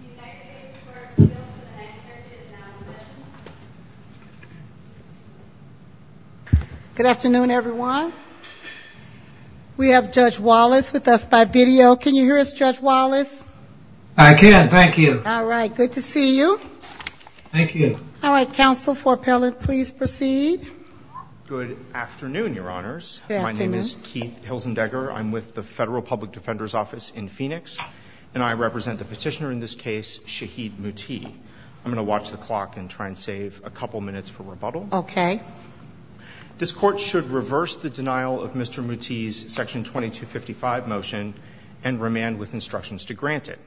United States Court of Appeals for the 9th Circuit is now in session. I present the petitioner in this case, Shahid Mutee. I'm going to watch the clock and try and save a couple minutes for rebuttal. Okay. This Court should reverse the denial of Mr. Mutee's Section 2255 motion and remand with instructions to grant it.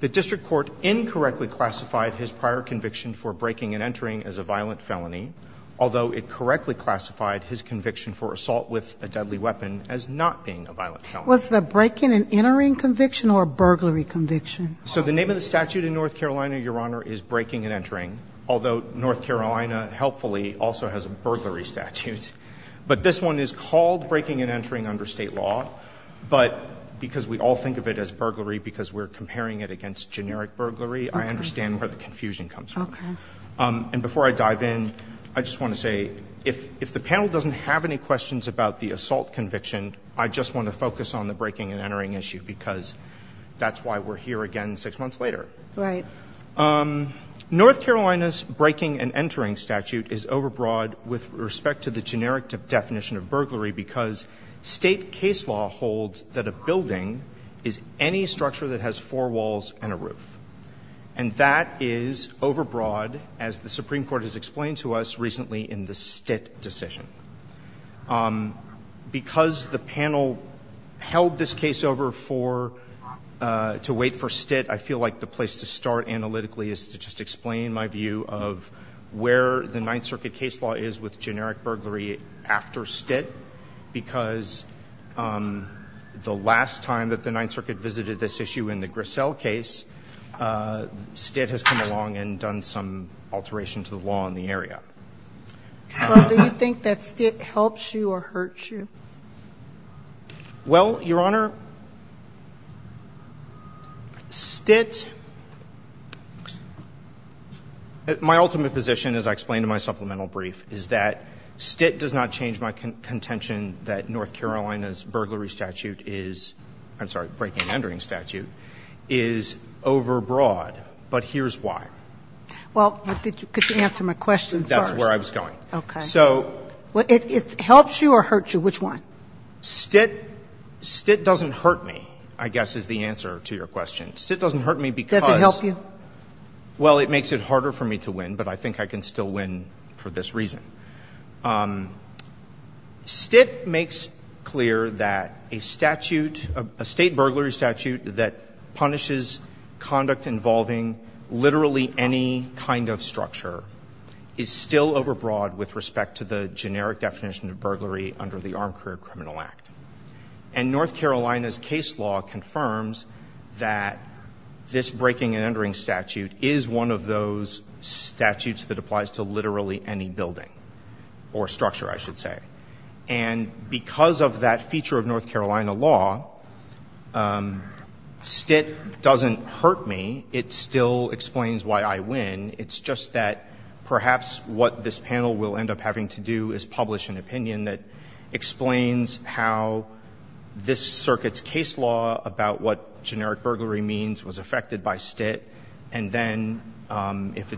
The district court incorrectly classified his prior conviction for breaking and entering as a violent felony, although it correctly classified his conviction for assault with a deadly weapon as not being a violent felony. What was the breaking and entering conviction or burglary conviction? So the name of the statute in North Carolina, Your Honor, is breaking and entering, although North Carolina helpfully also has a burglary statute. But this one is called breaking and entering under State law, but because we all think of it as burglary because we're comparing it against generic burglary, I understand where the confusion comes from. Okay. And before I dive in, I just want to say, if the panel doesn't have any questions about the assault conviction, I just want to focus on the breaking and entering issue because that's why we're here again six months later. Right. North Carolina's breaking and entering statute is overbroad with respect to the generic definition of burglary because State case law holds that a building is any structure that has four walls and a roof. And that is overbroad, as the Supreme Court has explained to us recently in the Stitt decision. Because the panel held this case over for to wait for Stitt, I feel like the place to start analytically is to just explain my view of where the Ninth Circuit case law is with generic burglary after Stitt because the last time that the Ninth Circuit visited this issue in the Grissel case, Stitt has come along and done some alteration to the law in the area. Well, do you think that Stitt helps you or hurts you? Well, Your Honor, Stitt, my ultimate position, as I explained in my supplemental brief, is that Stitt does not change my contention that North Carolina's burglary statute is, I'm sorry, breaking and entering statute, is overbroad. But here's why. Well, could you answer my question first? That's where I was going. Okay. So. Well, it helps you or hurts you? Which one? Stitt doesn't hurt me, I guess, is the answer to your question. Stitt doesn't hurt me because. Does it help you? Well, it makes it harder for me to win, but I think I can still win for this reason. Stitt makes clear that a statute, a state burglary statute, that punishes conduct involving literally any kind of structure is still overbroad with respect to the generic definition of burglary under the Armed Career Criminal Act. And North Carolina's case law confirms that this breaking and entering statute is one of those statutes that applies to literally any building, or structure, I should say. And because of that feature of North Carolina law, Stitt doesn't hurt me. It still explains why I win. It's just that perhaps what this panel will end up having to do is publish an opinion that explains how this circuit's case law about what generic burglary means was affected by Stitt, and then if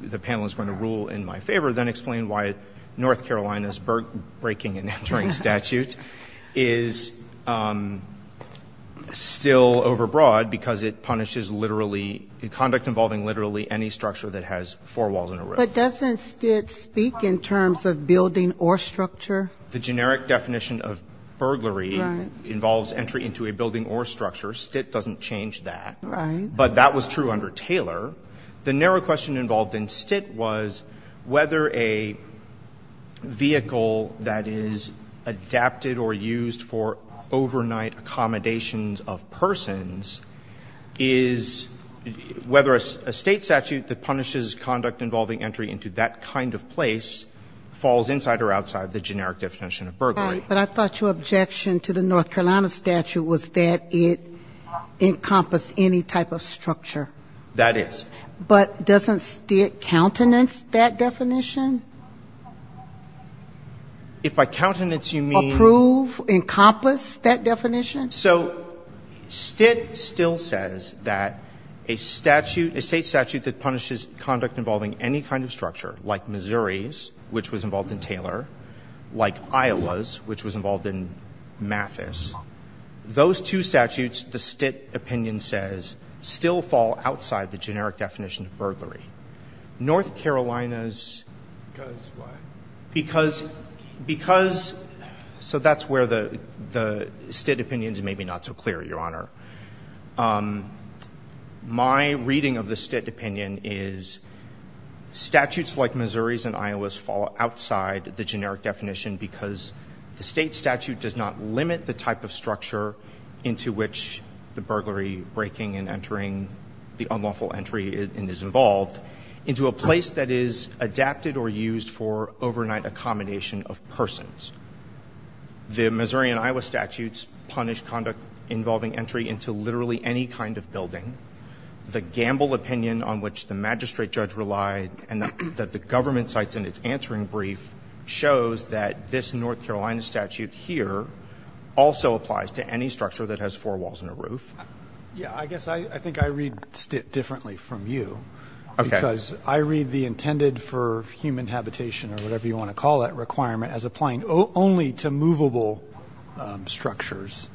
the panel is going to rule in my favor, then explain why North Carolina's breaking and entering statute is still overbroad because it punishes conduct involving literally any structure that has four walls and a roof. But doesn't Stitt speak in terms of building or structure? The generic definition of burglary involves entry into a building or structure. Stitt doesn't change that. Right. But that was true under Taylor. The narrow question involved in Stitt was whether a vehicle that is adapted or used for overnight accommodations of persons is whether a State statute that punishes conduct involving entry into that kind of place falls inside or outside the generic definition of burglary. Right. But I thought your objection to the North Carolina statute was that it encompassed any type of structure. That is. But doesn't Stitt countenance that definition? If by countenance you mean ---- So Stitt still says that a statute, a State statute that punishes conduct involving any kind of structure, like Missouri's, which was involved in Taylor, like Iowa's, which was involved in Mathis, those two statutes, the Stitt opinion says, still fall outside the generic definition of burglary. North Carolina's ---- Because what? Because, so that's where the Stitt opinion is maybe not so clear, Your Honor. My reading of the Stitt opinion is statutes like Missouri's and Iowa's fall outside the generic definition because the State statute does not limit the type of structure into which the burglary breaking and entering the unlawful entry is involved into a place that is adapted or used for overnight accommodation of persons. The Missouri and Iowa statutes punish conduct involving entry into literally any kind of building. The Gamble opinion on which the magistrate judge relied and that the government cites in its answering brief shows that this North Carolina statute here also applies to any structure that has four walls and a roof. Yeah, I guess I think I read Stitt differently from you. Okay. Because I read the intended for human habitation or whatever you want to call that requirement as applying only to movable structures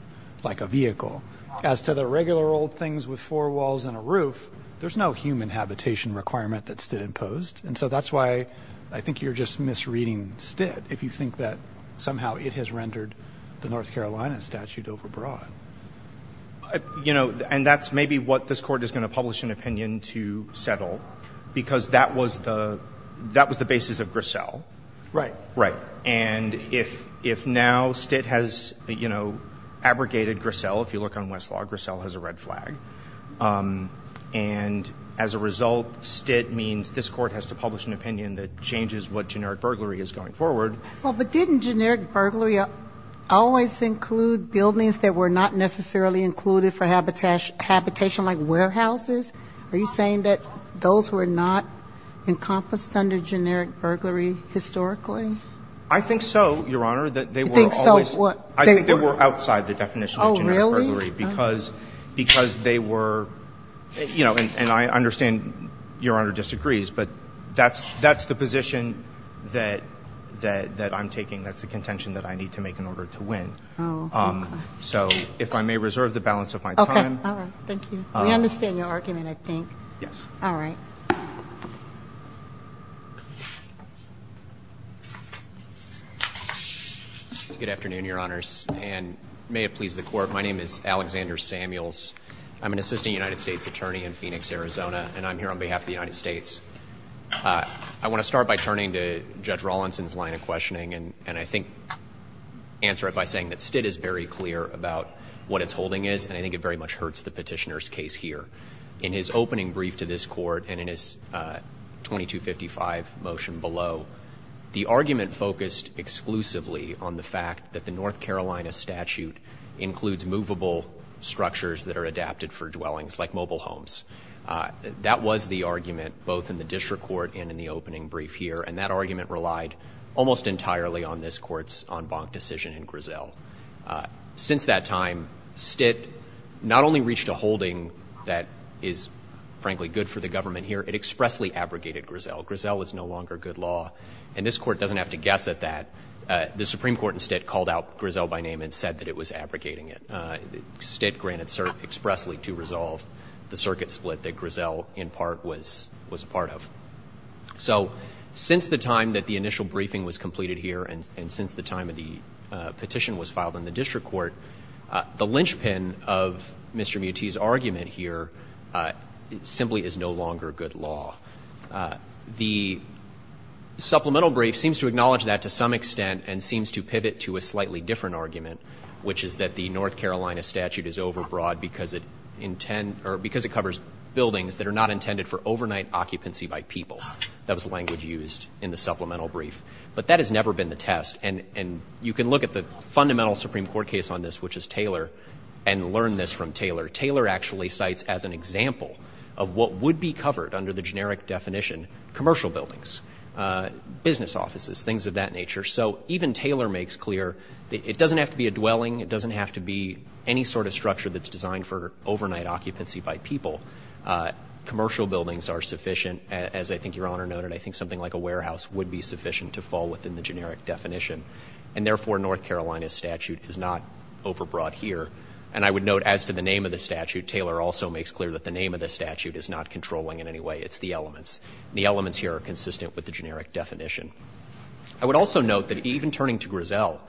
like a vehicle. As to the regular old things with four walls and a roof, there's no human habitation requirement that Stitt imposed, and so that's why I think you're just misreading Stitt if you think that somehow it has rendered the North Carolina statute over broad. You know, and that's maybe what this Court is going to publish an opinion to settle because that was the basis of Grissel. Right. Right. And if now Stitt has, you know, abrogated Grissel, if you look on Westlaw, Grissel has a red flag, and as a result, Stitt means this Court has to publish an opinion that changes what generic burglary is going forward. Well, but didn't generic burglary always include buildings that were not necessarily included for habitation like warehouses? Are you saying that those were not encompassed under generic burglary historically? I think so, Your Honor, that they were always. You think so? I think they were outside the definition of generic burglary because they were, you know, and I understand Your Honor disagrees, but that's the position that I'm taking. That's the contention that I need to make in order to win. Oh, okay. So if I may reserve the balance of my time. Okay. All right. Thank you. We understand your argument, I think. Yes. All right. Good afternoon, Your Honors, and may it please the Court. My name is Alexander Samuels. I'm an assistant United States attorney in Phoenix, Arizona, and I'm here on behalf of the United States. I want to start by turning to Judge Rawlinson's line of questioning and I think answer it by saying that Stitt is very clear about what its holding is and I think it very much hurts the Petitioner's case here. In his opening brief to this Court and in his 2255 motion below, the argument focused exclusively on the fact that the North Carolina statute includes movable structures that are adapted for dwellings, like mobile homes. That was the argument both in the district court and in the opening brief here, and that argument relied almost entirely on this Court's en banc decision in Griselle. Since that time, Stitt not only reached a holding that is, frankly, good for the government here, it expressly abrogated Griselle. Griselle is no longer good law, and this Court doesn't have to guess at that. The Supreme Court instead called out Griselle by name and said that it was abrogating it. Stitt granted expressly to resolve the circuit split that Griselle, in part, was a part of. So since the time that the initial briefing was completed here and since the time that the petition was filed in the district court, the linchpin of Mr. Muti's argument here simply is no longer good law. The supplemental brief seems to acknowledge that to some extent and seems to pivot to a slightly different argument, which is that the North Carolina statute is overbroad because it covers buildings that are not intended for overnight occupancy by people. That was the language used in the supplemental brief. But that has never been the test, and you can look at the fundamental Supreme Court case on this, which is Taylor, and learn this from Taylor. Taylor actually cites as an example of what would be covered under the generic definition commercial buildings, business offices, things of that nature. So even Taylor makes clear that it doesn't have to be a dwelling. It doesn't have to be any sort of structure that's designed for overnight occupancy by people. Commercial buildings are sufficient. As I think Your Honor noted, I think something like a warehouse would be sufficient to fall within the generic definition, and therefore, North Carolina's statute is not overbroad here. And I would note as to the name of the statute, Taylor also makes clear that the name of the statute is not controlling in any way. It's the elements. The elements here are consistent with the generic definition. I would also note that even turning to Griselle,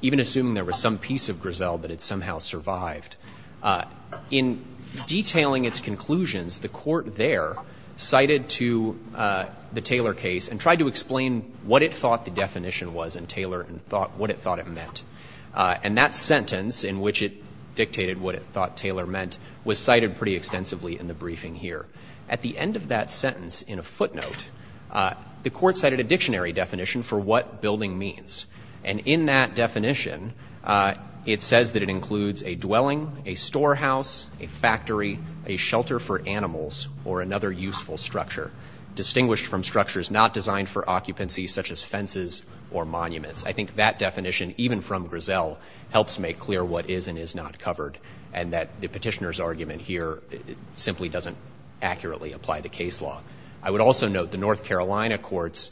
even assuming there was some piece of Griselle that had somehow survived, in detailing its conclusions, the Court there cited to the Taylor case and tried to explain what it thought the definition was in Taylor and what it thought it meant. And that sentence in which it dictated what it thought Taylor meant was cited pretty extensively in the briefing here. At the end of that sentence, in a footnote, the Court cited a dictionary definition for what building means. And in that definition, it says that it includes a dwelling, a storehouse, a factory, a shelter for animals, or another useful structure, distinguished from structures not designed for occupancy such as fences or monuments. I think that definition, even from Griselle, helps make clear what is and is not covered and that the petitioner's argument here simply doesn't accurately apply the case law. I would also note the North Carolina courts,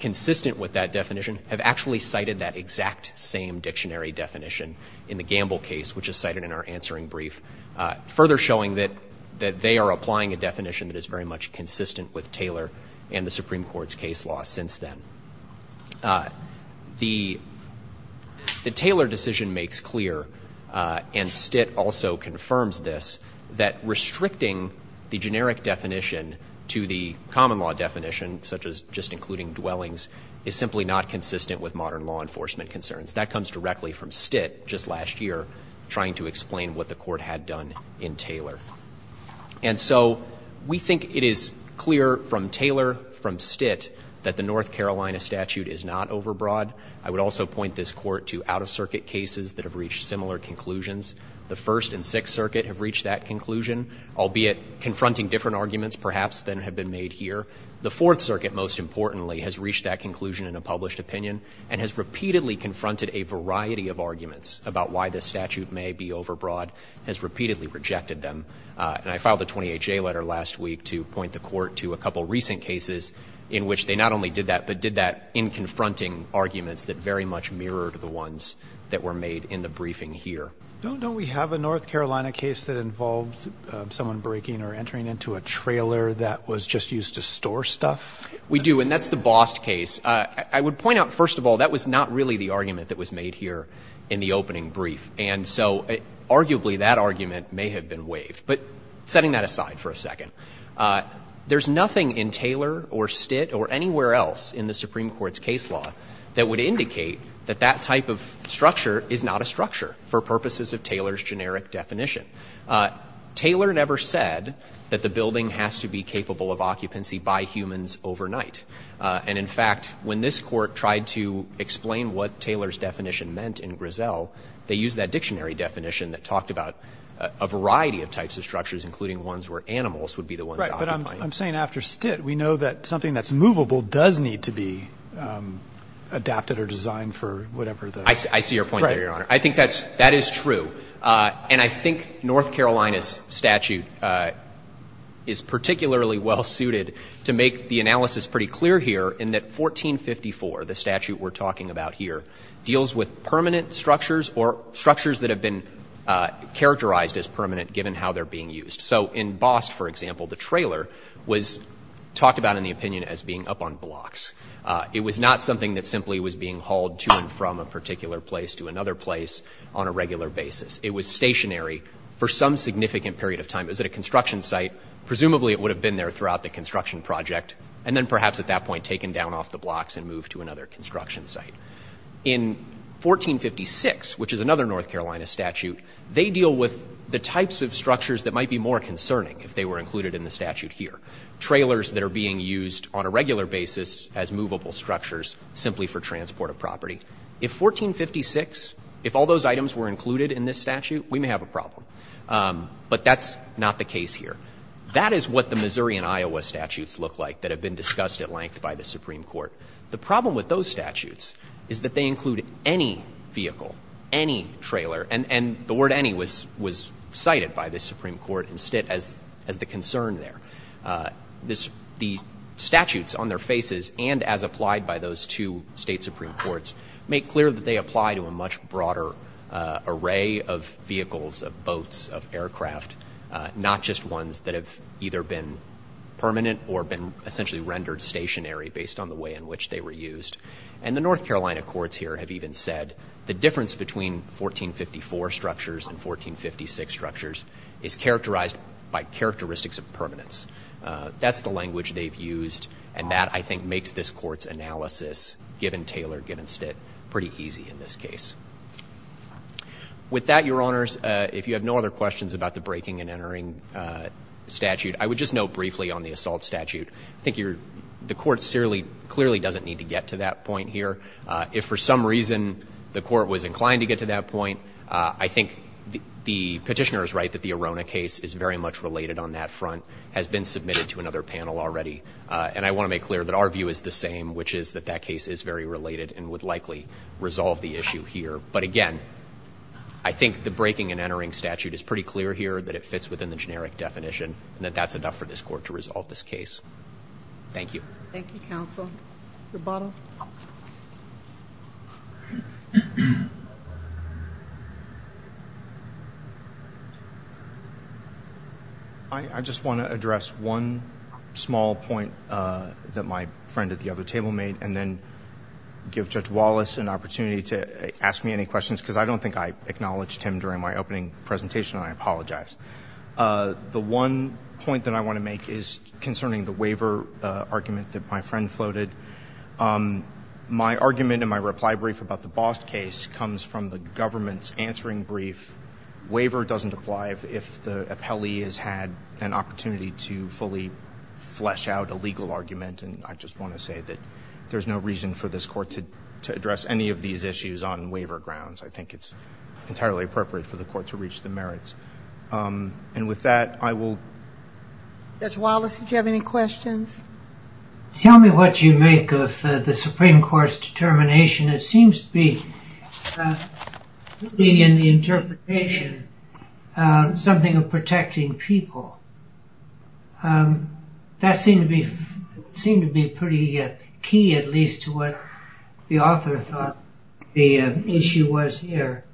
consistent with that definition, have actually cited that exact same dictionary definition in the Gamble case, which is cited in our answering brief, further showing that they are applying a definition that is very much consistent with Taylor and the Supreme Court's case law since then. The Taylor decision makes clear, and Stitt also confirms this, that restricting the generic definition to the common law definition, such as just including dwellings, is simply not consistent with modern law enforcement concerns. That comes directly from Stitt just last year trying to explain what the Court had done in Taylor. And so we think it is clear from Taylor, from Stitt, that the North Carolina statute is not overbroad. I would also point this Court to out-of-circuit cases that have reached similar conclusions. The First and Sixth Circuit have reached that conclusion, albeit confronting different arguments perhaps than have been made here. The Fourth Circuit, most importantly, has reached that conclusion in a published opinion and has repeatedly confronted a variety of arguments about why this statute may be overbroad, has repeatedly rejected them. And I filed a 28-J letter last week to point the Court to a couple of recent cases in which they not only did that, but did that in confronting arguments that very much mirrored the ones that were made in the briefing here. Don't we have a North Carolina case that involves someone breaking or entering into a trailer that was just used to store stuff? We do, and that's the Bost case. I would point out, first of all, that was not really the argument that was made here in the opening brief. And so arguably that argument may have been waived. But setting that aside for a second, there's nothing in Taylor or Stitt or anywhere else in the Supreme Court's case law that would indicate that that type of structure is not a structure for purposes of Taylor's generic definition. Taylor never said that the building has to be capable of occupancy by humans overnight. And in fact, when this Court tried to explain what Taylor's definition meant in Griselle, they used that dictionary definition that talked about a variety of types of structures, including ones where animals would be the ones occupying it. Right. But I'm saying after Stitt, we know that something that's movable does need to be adapted or designed for whatever the – I see your point there, Your Honor. Right. I think that is true. And I think North Carolina's statute is particularly well-suited to make the analysis pretty clear here in that 1454, the statute we're talking about here, deals with permanent structures or structures that have been characterized as permanent given how they're being used. So in Bost, for example, the trailer was talked about in the opinion as being up on blocks. It was not something that simply was being hauled to and from a particular place to another place on a regular basis. It was stationary for some significant period of time. It was at a construction site. Presumably it would have been there throughout the construction project and then perhaps at that point taken down off the blocks and moved to another construction site. In 1456, which is another North Carolina statute, they deal with the types of structures that might be more concerning if they were included in the statute here, trailers that are being used on a regular basis as movable structures simply for transport of property. If 1456, if all those items were included in this statute, we may have a problem. But that's not the case here. That is what the Missouri and Iowa statutes look like that have been discussed at length by the Supreme Court. The problem with those statutes is that they include any vehicle, any trailer, and the word any was cited by the Supreme Court as the concern there. The statutes on their faces and as applied by those two state Supreme Courts make clear that they apply to a much broader array of vehicles, of boats, of aircraft, not just ones that have either been permanent or been essentially rendered stationary based on the way in which they were used. And the North Carolina courts here have even said the difference between 1454 structures and 1456 structures is characterized by characteristics of permanence. That's the language they've used, and that, I think, makes this Court's analysis, given Taylor, given Stitt, pretty easy in this case. With that, Your Honors, if you have no other questions about the breaking and entering statute, I would just note briefly on the assault statute. I think the Court clearly doesn't need to get to that point here. If for some reason the Court was inclined to get to that point, I think the Petitioner is right that the Arona case is very much related on that front, has been submitted to another panel already. And I want to make clear that our view is the same, which is that that case is very related and would likely resolve the issue here. But, again, I think the breaking and entering statute is pretty clear here, that it fits within the generic definition, and that that's enough for this Court to resolve this case. Thank you. Thank you, counsel. Your bottle. I just want to address one small point that my friend at the other table made and then give Judge Wallace an opportunity to ask me any questions, because I don't think I acknowledged him during my opening presentation, and I apologize. The one point that I want to make is concerning the waiver argument that my friend floated. My argument in my reply brief about the Bost case comes from the government's answering brief. Waiver doesn't apply if the appellee has had an opportunity to fully flesh out a legal argument, and I just want to say that there's no reason for this Court to address any of these issues on waiver grounds. I think it's entirely appropriate for the Court to reach the merits. And with that, I will. Judge Wallace, did you have any questions? Tell me what you make of the Supreme Court's determination. It seems to be, in the interpretation, something of protecting people. That seemed to be pretty key, at least to what the author thought the issue was here.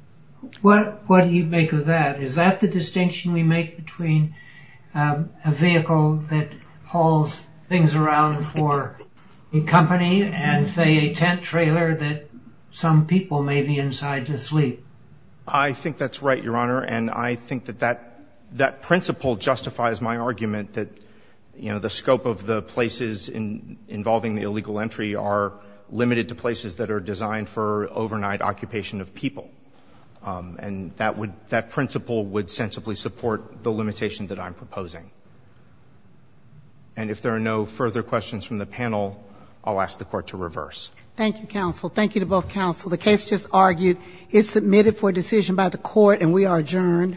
What do you make of that? Is that the distinction we make between a vehicle that hauls things around for a company and, say, a tent trailer that some people may be inside to sleep? I think that's right, Your Honor, and I think that that principle justifies my argument that, you know, the scope of the places involving the illegal entry are limited to places that are designed for overnight occupation of people. And that principle would sensibly support the limitation that I'm proposing. And if there are no further questions from the panel, I'll ask the Court to reverse. Thank you, counsel. Thank you to both counsel. The case just argued is submitted for decision by the Court, and we are adjourned. All rise.